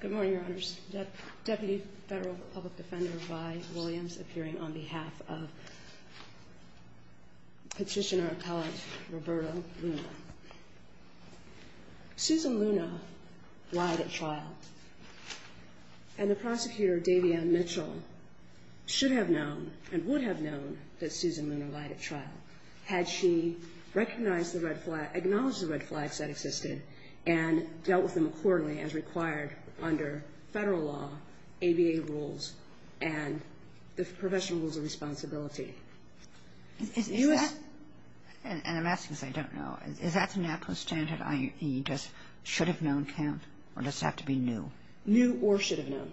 Good morning, Your Honors. Deputy Federal Public Defender Vi Williams appearing on behalf of Petitioner-Appellant Roberto Luna. Susan Luna lied at trial, and the prosecutor, Davian Mitchell, should have known and would have known that Susan Luna lied at trial had she recognized the red flags, acknowledged the red flags that existed, and dealt with them accordingly as required under Federal law, ABA rules, and the professional rules of responsibility. Is that, and I'm asking because I don't know, is that the natural standard IE, does should have known count, or does it have to be new? New or should have known.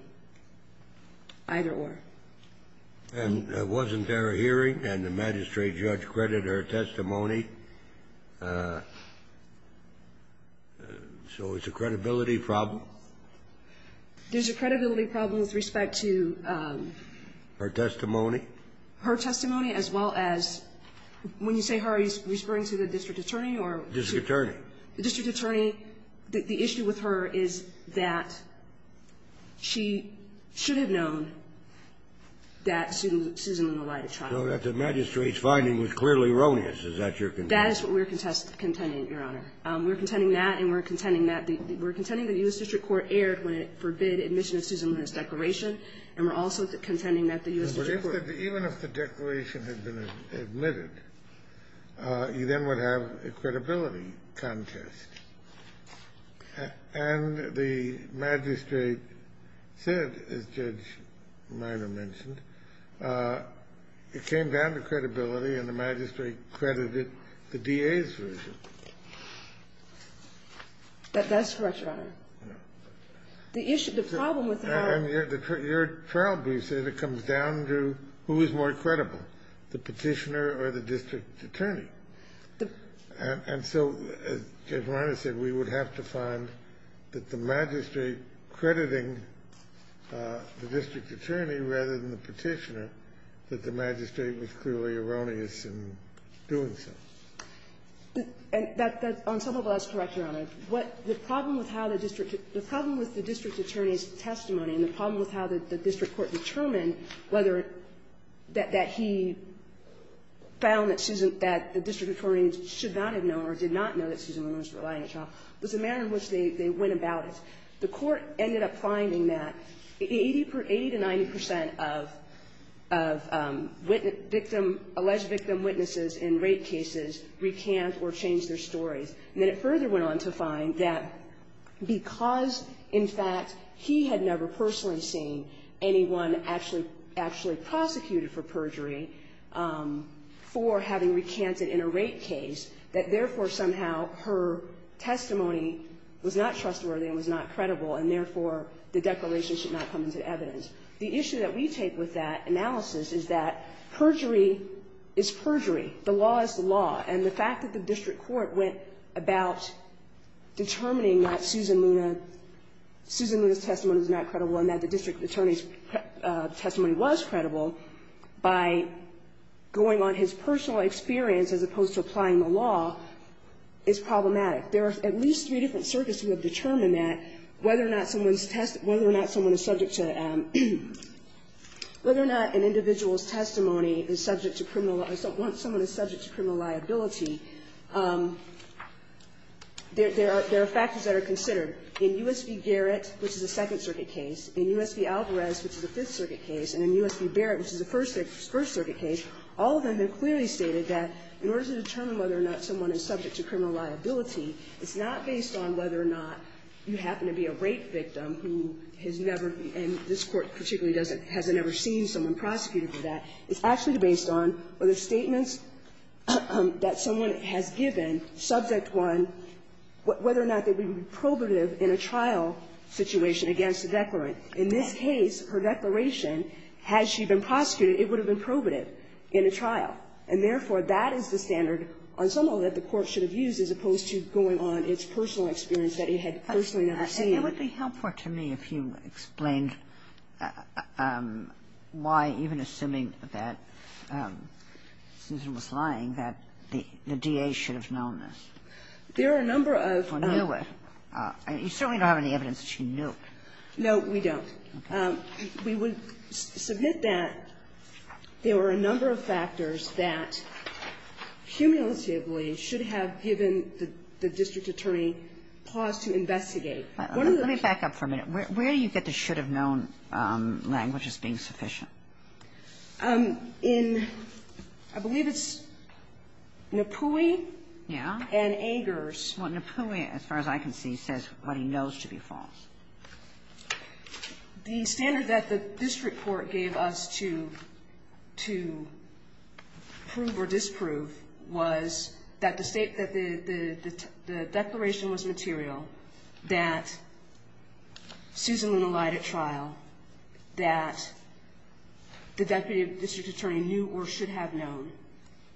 Either or. And wasn't there a hearing, and the magistrate judge credited her testimony? So it's a credibility problem? There's a credibility problem with respect to her testimony. Her testimony as well as, when you say her, are you referring to the district attorney or? District attorney. The district attorney, the issue with her is that she should have known that Susan Luna lied at trial. So that the magistrate's finding was clearly erroneous. Is that your contention? That is what we're contending, Your Honor. We're contending that, and we're contending that the U.S. district court erred when it forbid admission of Susan Luna's declaration, and we're also contending that the U.S. district court. admitted, you then would have a credibility contest. And the magistrate said, as Judge Minor mentioned, it came down to credibility, and the magistrate credited the DA's version. That's correct, Your Honor. The issue, the problem with her. And your trial brief said it comes down to who is more credible, the Petitioner or the district attorney. And so, as Judge Minor said, we would have to find that the magistrate crediting the district attorney rather than the Petitioner, that the magistrate was clearly erroneous in doing so. And that's, on some level, that's correct, Your Honor. The problem with how the district attorney's testimony and the problem with how the district court determined whether that he found that Susan, that the district attorney should not have known or did not know that Susan Luna was relying on trial was the manner in which they went about it. The court ended up finding that 80 to 90 percent of victim, alleged victim witnesses in rape cases recant or change their stories. And then it further went on to find that because, in fact, he had never personally seen anyone actually prosecuted for perjury for having recanted in a rape case, that, therefore, somehow her testimony was not trustworthy and was not credible, and, therefore, the declaration should not come into evidence. The issue that we take with that analysis is that perjury is perjury. The law is the law. And the fact that the district court went about determining that Susan Luna's testimony was not credible and that the district attorney's testimony was credible by going on his personal experience as opposed to applying the law is problematic. There are at least three different circuits who have determined that whether or not someone's testimony is subject to criminal liability. There are factors that are considered in U.S. v. Garrett, which is a Second Circuit case, in U.S. v. Alvarez, which is a Fifth Circuit case, and in U.S. v. Barrett, which is a First Circuit case. All of them have clearly stated that in order to determine whether or not someone is subject to criminal liability, it's not based on whether or not you happen to be a rape victim who has never been, and this Court particularly doesn't, hasn't ever seen someone prosecuted for that. It's actually based on whether statements that someone has given, subject one, whether or not they would be probative in a trial situation against the declarant. In this case, her declaration, had she been prosecuted, it would have been probative in a trial. And therefore, that is the standard, on some level, that the Court should have used as opposed to going on its personal experience that it had personally never seen. Kagan. And it would be helpful to me if you explained why, even assuming that Susan was lying, that the DA should have known this. There are a number of. Or knew it. You certainly don't have any evidence that she knew it. No, we don't. We would submit that there were a number of factors. One is that, cumulatively, should have given the district attorney pause to investigate. Let me back up for a minute. Where do you get the should have known language as being sufficient? In, I believe it's Napui. Yeah. And Angers. Well, Napui, as far as I can see, says what he knows to be false. The standard that the district court gave us to prove or disprove was that the State that the declaration was material, that Susan Luna lied at trial, that the deputy district attorney knew or should have known.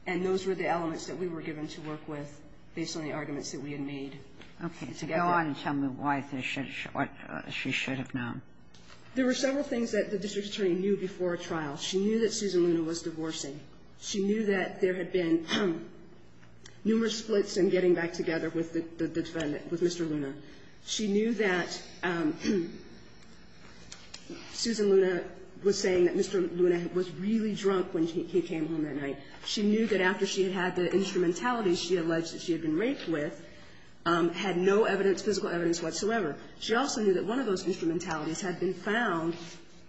And those were the elements that we were given to work with based on the arguments that we had made. Okay. So go on and tell me what she should have known. There were several things that the district attorney knew before a trial. She knew that Susan Luna was divorcing. She knew that there had been numerous splits in getting back together with the defendant, with Mr. Luna. She knew that Susan Luna was saying that Mr. Luna was really drunk when he came home that night. She knew that after she had had the instrumentality she alleged that she had been raped with, had no evidence, physical evidence whatsoever. She also knew that one of those instrumentalities had been found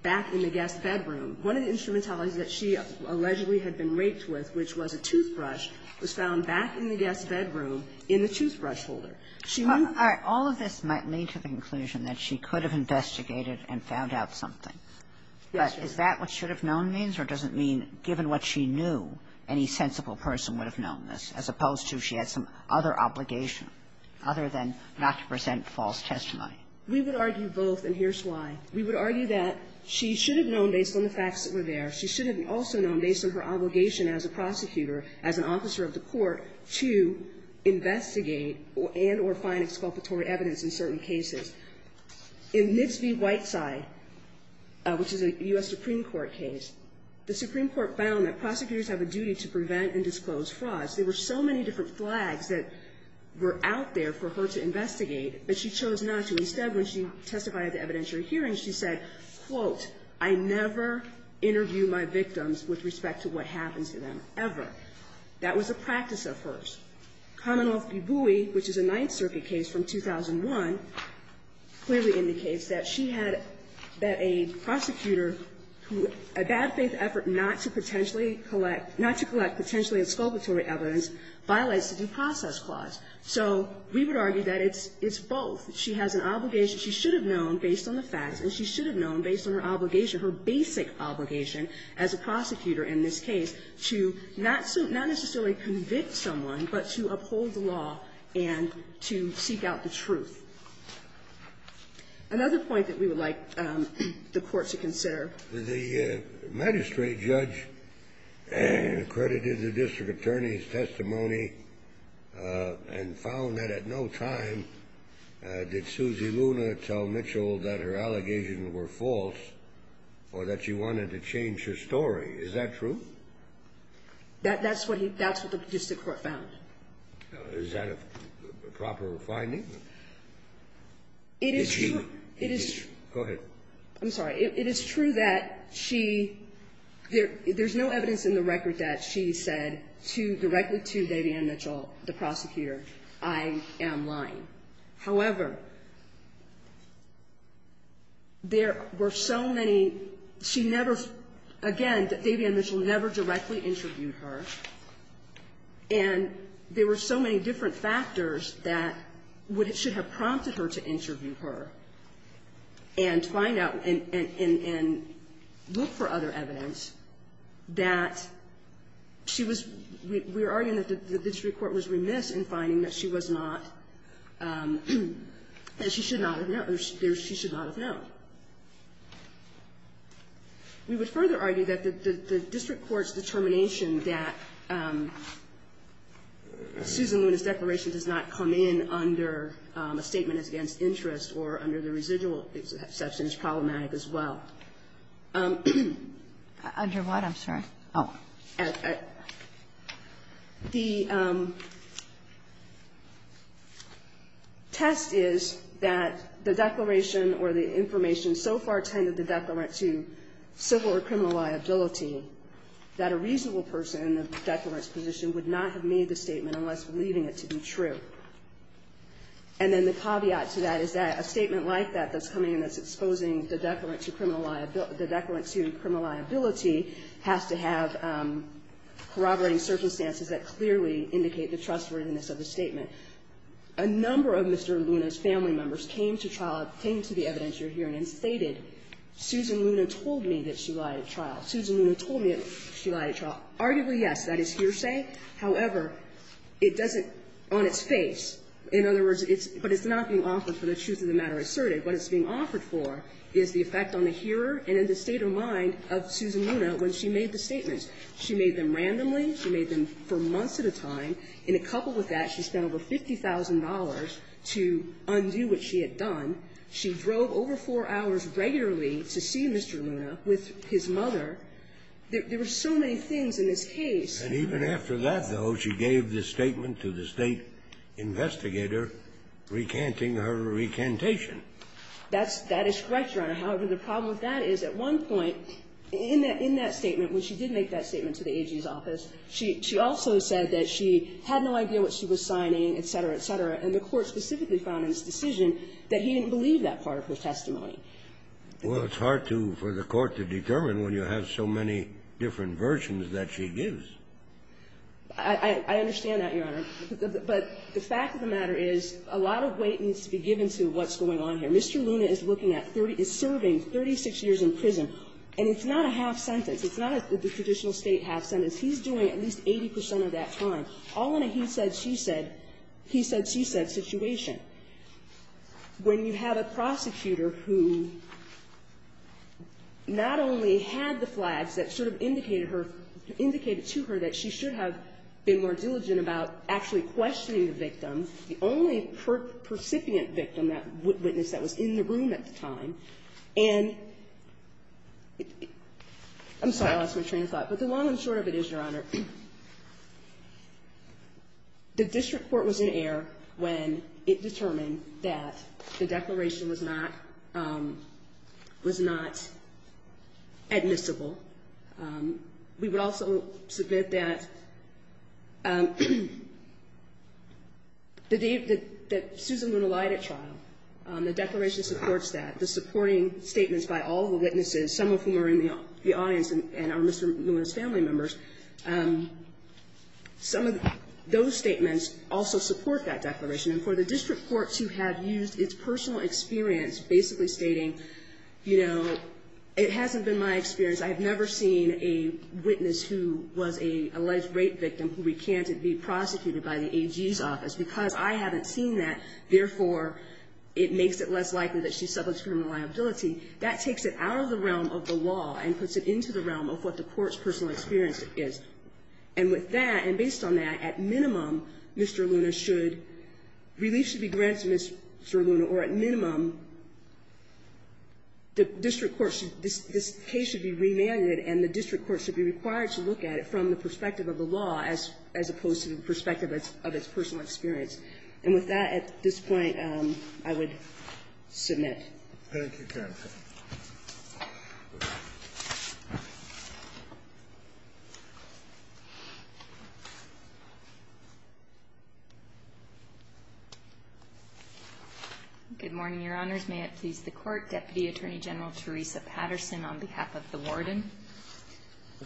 back in the guest bedroom. One of the instrumentalities that she allegedly had been raped with, which was a toothbrush, was found back in the guest bedroom in the toothbrush holder. All right. All of this might lead to the conclusion that she could have investigated and found out something. Yes. But is that what should have known means, or does it mean given what she knew, any sensible person would have known this, as opposed to she had some other obligation, other than not to present false testimony? We would argue both, and here's why. We would argue that she should have known based on the facts that were there. She should have also known based on her obligation as a prosecutor, as an officer of the court, to investigate and or find exculpatory evidence in certain cases. In Mitsvi Whiteside, which is a U.S. Supreme Court case, the Supreme Court found that prosecutors have a duty to prevent and disclose frauds. There were so many different flags that were out there for her to investigate, but she chose not to. Instead, when she testified at the evidentiary hearing, she said, quote, I never interview my victims with respect to what happens to them, ever. That was a practice of hers. Kamenov-Bibui, which is a Ninth Circuit case from 2001, clearly indicates that she had, that a prosecutor who, a bad faith effort not to potentially collect, not to collect potentially exculpatory evidence violates the due process clause. So we would argue that it's both. She has an obligation, she should have known based on the facts, and she should have known based on her obligation, her basic obligation as a prosecutor in this case, to not necessarily convict someone, but to uphold the law and to seek out the truth. Another point that we would like the Court to consider. The magistrate judge accredited the district attorney's testimony and found that at no time did Suzy Luna tell Mitchell that her allegations were false or that she wanted to change her story. Is that true? That's what he, that's what the district court found. Is that a proper finding? It is true. Go ahead. I'm sorry. It is true that she, there's no evidence in the record that she said to, directly to Davianne Mitchell, the prosecutor, I am lying. However, there were so many, she never, again, that Davianne Mitchell never directly interviewed her, and there were so many different factors that would have, should have prompted her to interview her and find out and look for other evidence that she was, we're arguing that the district court was remiss in finding that she was not, that she should not have known. We would further argue that the district court's determination that Suzy Luna's declaration does not come in under a statement as against interest or under the residual exception is problematic as well. Under what? I'm sorry. The test is that the declaration or the information so far tended the declarant to civil or criminal liability that a reasonable person in the declarant's position would not have made the statement unless believing it to be true. And then the caveat to that is that a statement like that that's coming in that's exposing the declarant to criminal liability has to have corroborating circumstances that clearly indicate the trustworthiness of the statement. A number of Mr. Luna's family members came to trial, came to the evidence you're hearing and stated, Susan Luna told me that she lied at trial. Susan Luna told me that she lied at trial. Arguably, yes, that is hearsay. However, it doesn't, on its face, in other words, but it's not being offered for the truth of the matter asserted. What it's being offered for is the effect on the hearer and in the state of mind of Susan Luna when she made the statements. She made them randomly. She made them for months at a time. In a couple with that, she spent over $50,000 to undo what she had done. She drove over four hours regularly to see Mr. Luna with his mother. There were so many things in this case. And even after that, though, she gave this statement to the State investigator after recanting her recantation. That is correct, Your Honor. However, the problem with that is at one point in that statement, when she did make that statement to the AG's office, she also said that she had no idea what she was signing, et cetera, et cetera, and the Court specifically found in its decision that he didn't believe that part of her testimony. Well, it's hard for the Court to determine when you have so many different versions that she gives. I understand that, Your Honor. But the fact of the matter is, a lot of weight needs to be given to what's going on here. Mr. Luna is looking at 30 — is serving 36 years in prison, and it's not a half sentence. It's not the traditional State half sentence. He's doing at least 80 percent of that time, all in a he said, she said, he said, she said situation. When you have a prosecutor who not only had the flags that sort of indicated to her that she should have been more diligent about actually questioning the victim, the only percipient victim, that witness that was in the room at the time, and — I'm sorry. I lost my train of thought. But the long and short of it is, Your Honor, the district court was in error when it determined that the declaration was not — was not admissible. We would also submit that the — that Susan Luna lied at trial. The declaration supports that. The supporting statements by all the witnesses, some of whom are in the audience and are Mr. Luna's family members, some of those statements also support that declaration. And for the district court to have used its personal experience basically stating, you know, it hasn't been my experience. I have never seen a witness who was an alleged rape victim who recanted being prosecuted by the AG's office. Because I haven't seen that, therefore, it makes it less likely that she's subject to criminal liability, that takes it out of the realm of the law and puts it into the realm of what the court's personal experience is. And with that, and based on that, at minimum, Mr. Luna should — relief should be granted to Mr. Luna, or at minimum, the district court should — this case should be remanded and the district court should be required to look at it from the perspective of the law as opposed to the perspective of its personal experience. And with that, at this point, I would submit. Thank you, counsel. Good morning, Your Honors. May it please the Court. Deputy Attorney General Teresa Patterson on behalf of the warden.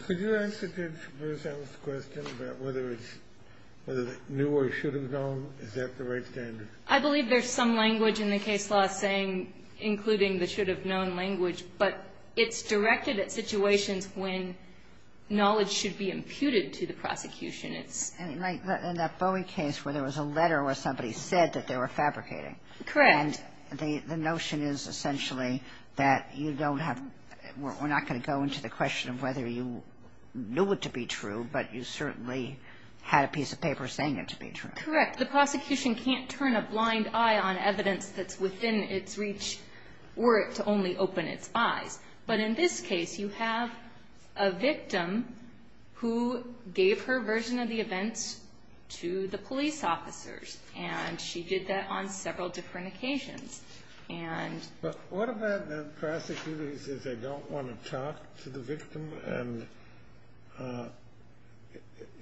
Could you answer Judge Berzell's question about whether it's — whether it's new or should have known? Is that the right standard? I believe there's some language in the case law saying — including the should have known language, but it's directed at situations when knowledge should be imputed to the prosecution. It's — In that Bowie case where there was a letter where somebody said that they were fabricating. Correct. And the notion is essentially that you don't have — we're not going to go into the question of whether you knew it to be true, but you certainly had a piece of paper saying it to be true. Correct. The prosecution can't turn a blind eye on evidence that's within its reach or to only open its eyes. But in this case, you have a victim who gave her version of the events to the police officers, and she did that on several different occasions. And — But what about the prosecutor who says they don't want to talk to the victim? And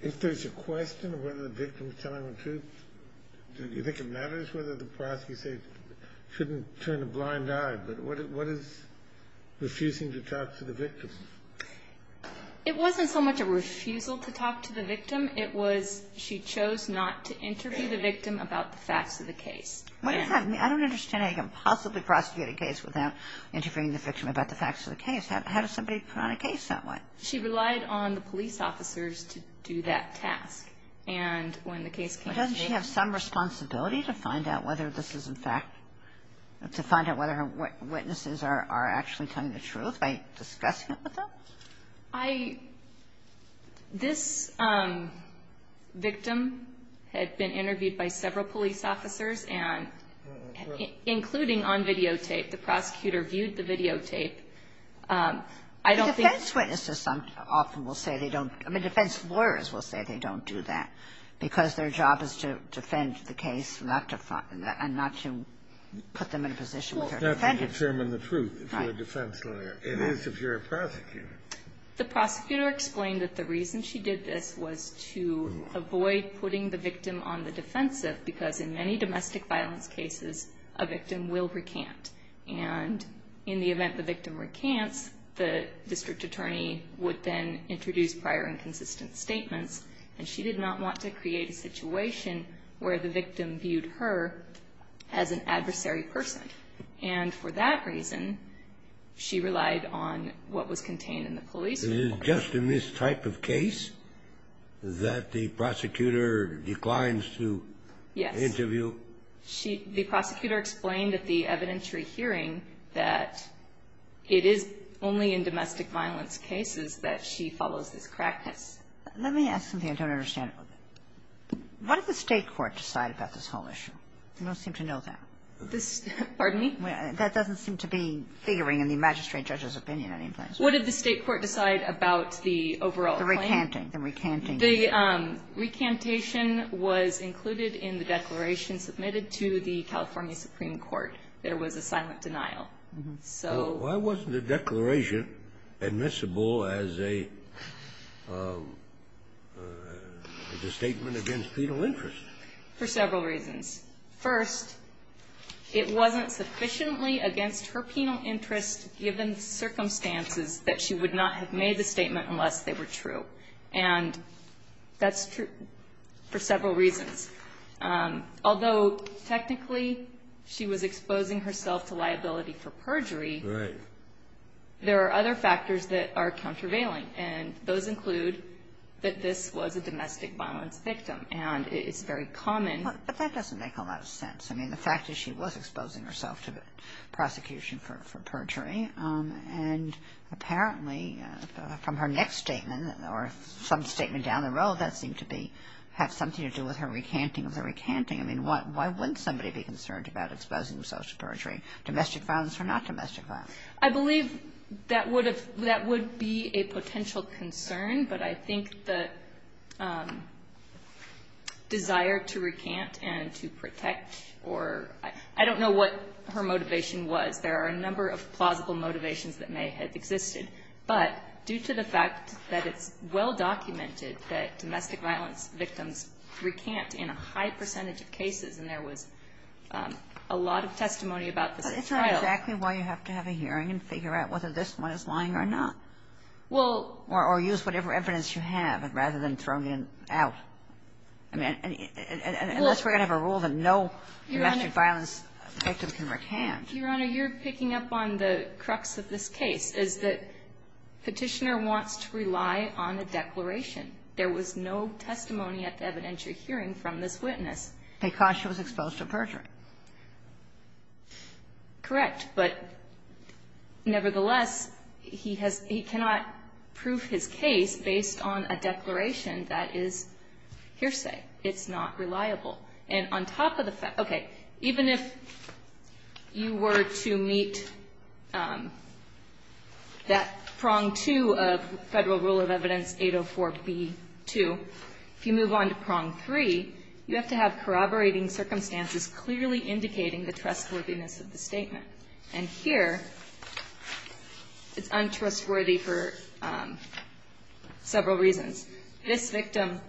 if there's a question of whether the victim's telling the truth, do you think it matters whether the prosecutor says — shouldn't turn a blind eye, but what is refusing to talk to the victim? It wasn't so much a refusal to talk to the victim. It was she chose not to interview the victim about the facts of the case. What does that mean? I don't understand how you can possibly prosecute a case without interviewing the victim about the facts of the case. How does somebody put on a case that way? She relied on the police officers to do that task. And when the case came to me — But doesn't she have some responsibility to find out whether this is in fact — to find out whether her witnesses are actually telling the truth by discussing it with them? I — this victim had been interviewed by several police officers, and including on videotape, the prosecutor viewed the videotape. I don't think — But defense witnesses often will say they don't — I mean, defense lawyers will say they don't do that, because their job is to defend the case, not to — and not to put them in a position with their defendants. Well, not to determine the truth if you're a defense lawyer. It is if you're a prosecutor. The prosecutor explained that the reason she did this was to avoid putting the victim on the defensive, because in many domestic violence cases, a victim will recant. And in the event the victim recants, the district attorney would then introduce prior and consistent statements. And she did not want to create a situation where the victim viewed her as an adversary person. And for that reason, she relied on what was contained in the police report. It is just in this type of case that the prosecutor declines to interview? Yes. She — the prosecutor explained at the evidentiary hearing that it is only in domestic violence cases that she follows this practice. Let me ask something I don't understand. What did the State court decide about this whole issue? You don't seem to know that. This — pardon me? That doesn't seem to be figuring in the magistrate judge's opinion in any place. What did the State court decide about the overall claim? The recanting. The recanting. The recantation was included in the declaration submitted to the California Supreme Court. There was a silent denial. So why wasn't the declaration admissible as a — as a statement against penal interest? For several reasons. First, it wasn't sufficiently against her penal interest, given circumstances, that she would not have made the statement unless they were true. And that's true for several reasons. Although technically she was exposing herself to liability for perjury, there are other factors that are countervailing. And those include that this was a domestic violence victim. And it's very common. But that doesn't make a lot of sense. I mean, the fact is she was exposing herself to prosecution for perjury. And apparently from her next statement or some statement down the road, that seemed to be — have something to do with her recanting of the recanting. I mean, why wouldn't somebody be concerned about exposing herself to perjury, domestic violence or not domestic violence? I believe that would have — that would be a potential concern. But I think the desire to recant and to protect or — I don't know what her motivation was. There are a number of plausible motivations that may have existed. But due to the fact that it's well documented that domestic violence victims recant in a high percentage of cases, and there was a lot of testimony about this trial. But it's not exactly why you have to have a hearing and figure out whether this one is lying or not. Well — Or use whatever evidence you have rather than throwing it out. I mean, unless we're going to have a rule that no domestic violence victim can recant. Your Honor, you're picking up on the crux of this case, is that Petitioner wants to rely on a declaration. There was no testimony at the evidentiary hearing from this witness. Because she was exposed to perjury. Correct. But nevertheless, he has — he cannot prove his case based on a declaration that is hearsay. It's not reliable. And on top of the fact — okay. Even if you were to meet that prong two of Federal Rule of Evidence 804b-2, if you move on to prong three, you have to have corroborating circumstances clearly indicating the trustworthiness of the statement. And here, it's untrustworthy for several reasons. This victim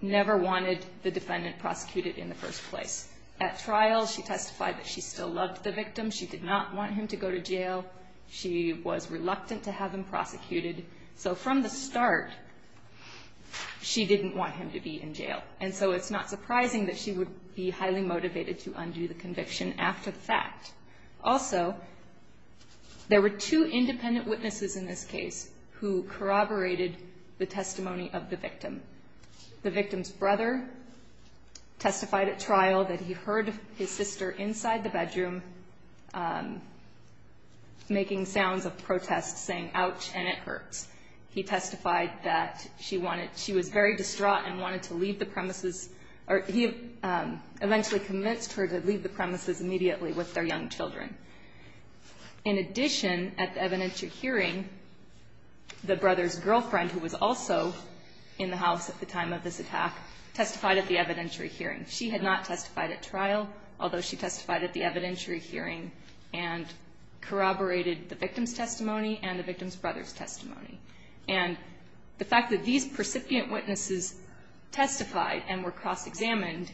never wanted the defendant prosecuted in the first place. At trial, she testified that she still loved the victim. She did not want him to go to jail. She was reluctant to have him prosecuted. So from the start, she didn't want him to be in jail. And so it's not surprising that she would be highly motivated to undo the conviction after the fact. Also, there were two independent witnesses in this case who corroborated the testimony of the victim. The victim's brother testified at trial that he heard his sister inside the bedroom making sounds of protest, saying, ouch, and it hurts. He testified that she wanted — she was very distraught and wanted to leave the premises or he eventually convinced her to leave the premises immediately with their young children. In addition, at the evidentiary hearing, the brother's girlfriend, who was also in the house at the time of this attack, testified at the evidentiary hearing. She had not testified at trial, although she testified at the evidentiary hearing and corroborated the victim's testimony and the victim's brother's testimony. And the fact that these percipient witnesses testified and were cross-examined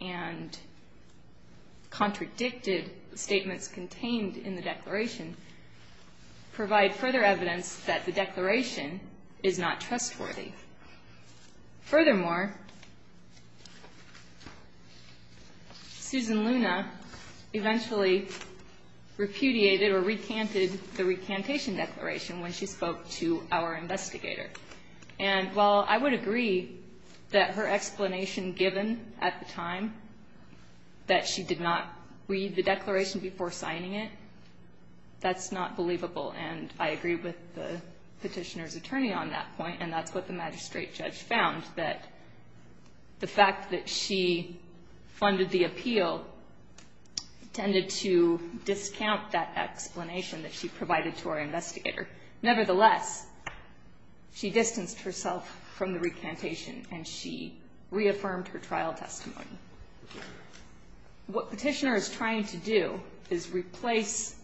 and contradicted statements contained in the declaration provide further evidence that the declaration is not trustworthy. Furthermore, Susan Luna eventually repudiated or recanted the recantation declaration when she spoke to our investigator. And while I would agree that her explanation given at the time that she did not read the declaration before signing it, that's not believable. And I agree with the Petitioner's attorney on that point, and that's what the magistrate judge found, that the fact that she funded the appeal tended to discount that explanation that she provided to our investigator. Nevertheless, she distanced herself from the recantation and she reaffirmed her trial testimony. What Petitioner is trying to do is replace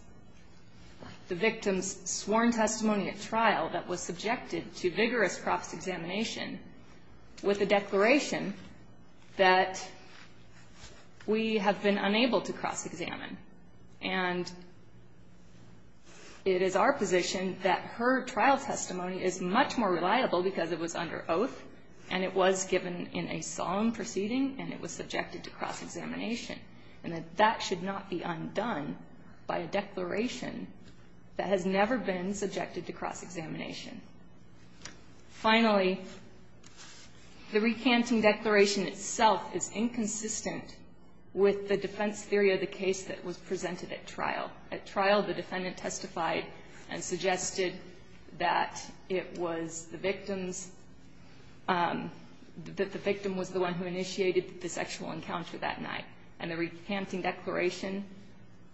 the victim's sworn testimony at trial that was subjected to vigorous cross-examination with a declaration that we have been unable to cross-examine. And it is our position that her trial testimony is much more reliable because it was subjected to cross-examination, and that that should not be undone by a declaration that has never been subjected to cross-examination. Finally, the recanting declaration itself is inconsistent with the defense theory of the case that was presented at trial. At trial, the defendant testified and suggested that it was the victim's – that the defense will encounter that night, and the recanting declaration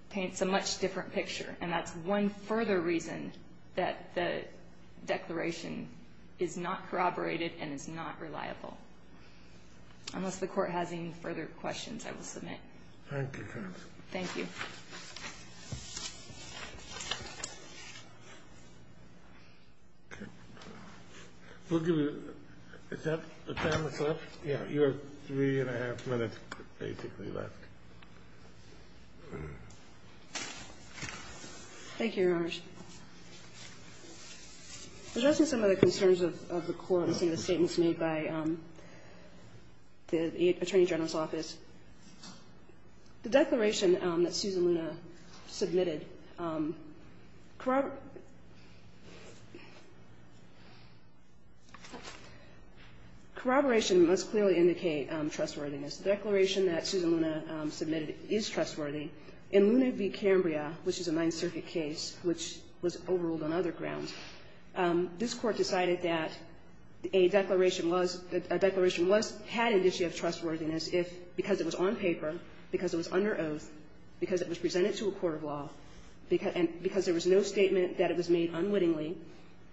paints a much different picture, and that's one further reason that the declaration is not corroborated and is not reliable. Unless the Court has any further questions, I will submit. Thank you, counsel. Thank you. Okay. Is that the time that's left? Yeah. You have three and a half minutes, basically, left. Thank you, Your Honors. Addressing some of the concerns of the Court and some of the statements made by the Attorney General's Office, the declaration that Susan Luna submitted corroborates the case that was presented at trial. Corroboration must clearly indicate trustworthiness. The declaration that Susan Luna submitted is trustworthy. In Luna v. Cambria, which is a Ninth Circuit case which was overruled on other grounds, this Court decided that a declaration was – a declaration was – had an issue of trustworthiness if, because it was on paper, because it was under oath, because it was presented to a court of law, because – and because there was no statement that it was made unwittingly,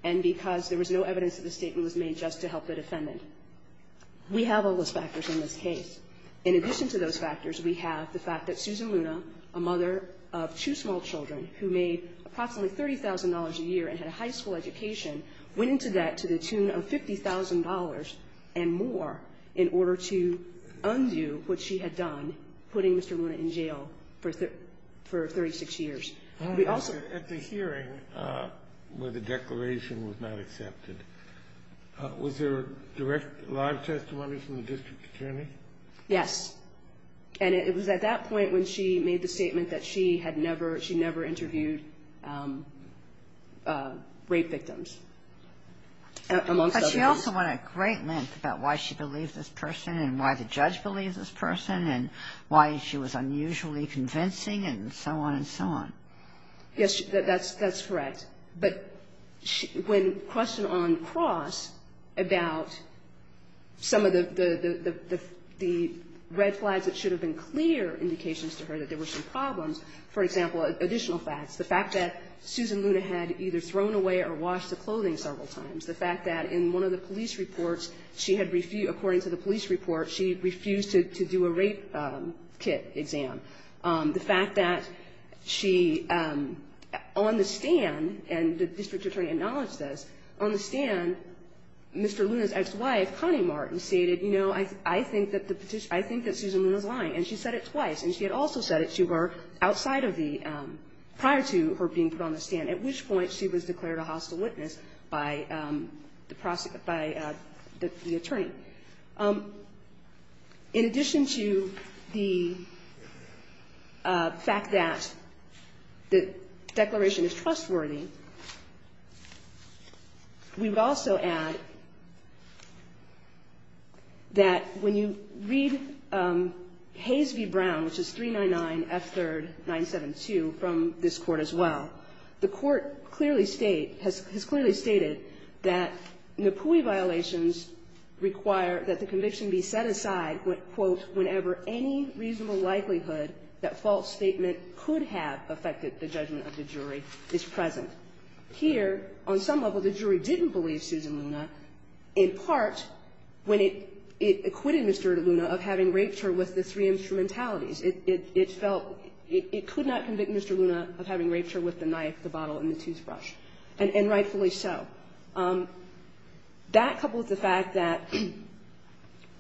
and because there was no evidence that the statement was made just to help the defendant. We have all those factors in this case. In addition to those factors, we have the fact that Susan Luna, a mother of two small children who made approximately $30,000 a year and had a high school education, went into debt to the tune of $50,000 and more in order to undo what she had done, putting Mr. Luna in jail for 36 years. We also – At the hearing where the declaration was not accepted, was there a direct live testimony from the district attorney? Yes. And it was at that point when she made the statement that she had never – she never interviewed rape victims. But she also went at great length about why she believed this person and why the judge believed this person and why she was unusually convincing and so on and so on. Yes. That's correct. But when – question on cross about some of the red flags that should have been clear indications to her that there were some problems, for example, additional facts, the fact that Susan Luna had either thrown away or washed the clothing several times, the fact that in one of the police reports, she had refused – according to the police report, she refused to do a rape kit exam, the fact that she on the stand – and the district attorney acknowledged this – on the stand, Mr. Luna's ex-wife, Connie Martin, stated, you know, I think that the – I think that Susan Luna's lying. And she said it twice. And she had also said it to her outside of the – prior to her being put on the stand, at which point she was declared a hostile witness by the prosecutor – by the attorney. In addition to the fact that the declaration is trustworthy, we would also add that when you read Hayes v. Brown, which is 399 F. 3rd 972 from this Court as well, that the court clearly state – has clearly stated that NAPUI violations require that the conviction be set aside, quote, whenever any reasonable likelihood that false statement could have affected the judgment of the jury is present. Here, on some level, the jury didn't believe Susan Luna, in part, when it acquitted Mr. Luna of having raped her with the knife, the bottle, and the toothbrush, and rightfully so. That, coupled with the fact that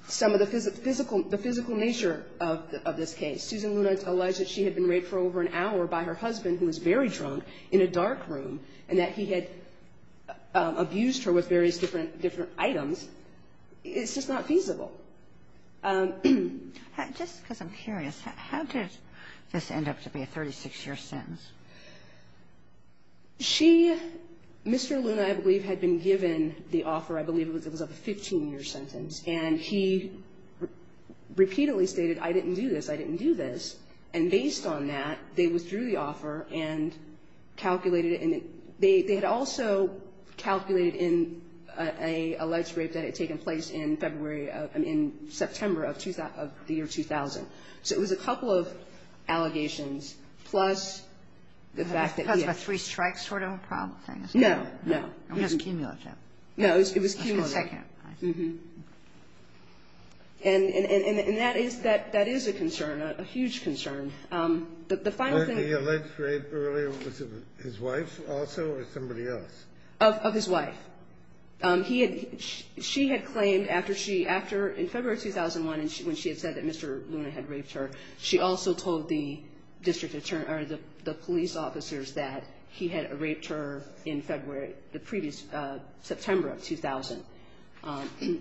some of the physical – the physical nature of this case, Susan Luna alleged that she had been raped for over an hour by her husband, who was very drunk, in a dark room, and that he had abused her with various different items, is just not feasible. So just because I'm curious, how did this end up to be a 36-year sentence? She – Mr. Luna, I believe, had been given the offer, I believe it was of a 15-year sentence, and he repeatedly stated, I didn't do this, I didn't do this. And based on that, they withdrew the offer and calculated it. They had also calculated in a alleged rape that had taken place in February of – I mean, September of the year 2000. So it was a couple of allegations plus the fact that he had been raped. Kagan. That's a three-strike sort of a problem, I guess. No, no. It was cumulative. No, it was cumulative. A second. Mm-hmm. And that is a concern, a huge concern. The final thing – Was it his wife also or somebody else? Of his wife. He had – she had claimed after she – after – in February of 2001, when she had said that Mr. Luna had raped her, she also told the district attorney – or the police officers that he had raped her in February – the previous – September of 2000.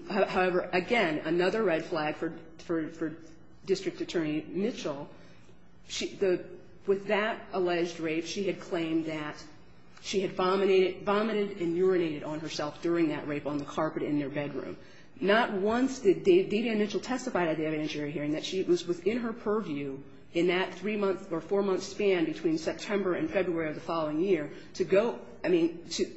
However, again, another red flag for district attorney Mitchell, she – the – with that alleged rape, she had claimed that she had vomited and urinated on herself during that rape on the carpet in their bedroom. Not once did Davian Mitchell testify at the evidentiary hearing that she – it was within her purview in that three-month or four-month span between September and February of the following year to go – I mean, to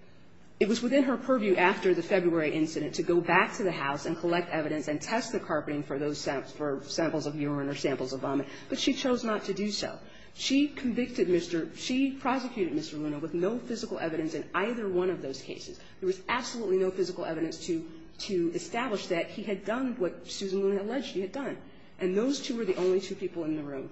– it was within her purview after the February incident to go back to the house and collect evidence and test the carpeting for those – for samples of urine or samples of vomit. But she chose not to do so. She convicted Mr. – she prosecuted Mr. Luna with no physical evidence in either one of those cases. There was absolutely no physical evidence to – to establish that he had done what Susan Luna alleged he had done. And those two were the only two people in the room.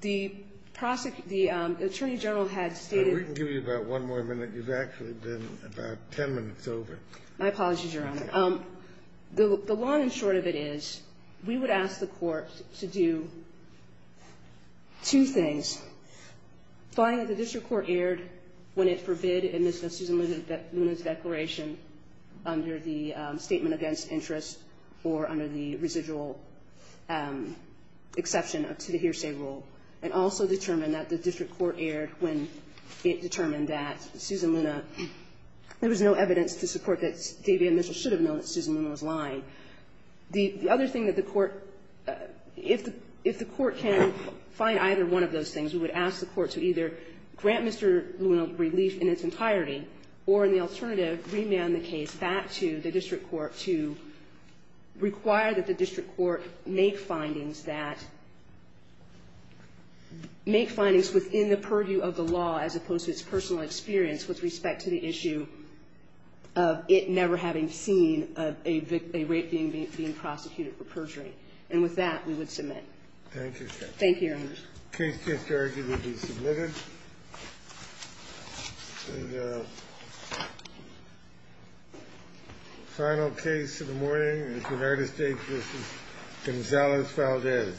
The prosecutor – the attorney general had stated – We can give you about one more minute. You've actually been about ten minutes over. My apologies, Your Honor. The – the long and short of it is we would ask the court to do two things. Find that the district court erred when it forbid in Ms. Susan Luna's declaration under the statement against interest or under the residual exception to the hearsay rule, and also determine that the district court erred when it determined that Susan Luna – there was no evidence to support that David Mitchell should have known that Susan Luna was lying. The other thing that the court – if the – if the court can find either one of those things, we would ask the court to either grant Mr. Luna relief in its entirety or, in the alternative, remand the case back to the district court to require that the district court make findings that – make findings within the purview of the law as opposed to its personal experience with respect to the issue of it never having seen a rape being prosecuted for perjury. And with that, we would submit. Thank you. Thank you, Your Honor. The case case to argue will be submitted. And final case of the morning is United States v. Gonzalez Valdez.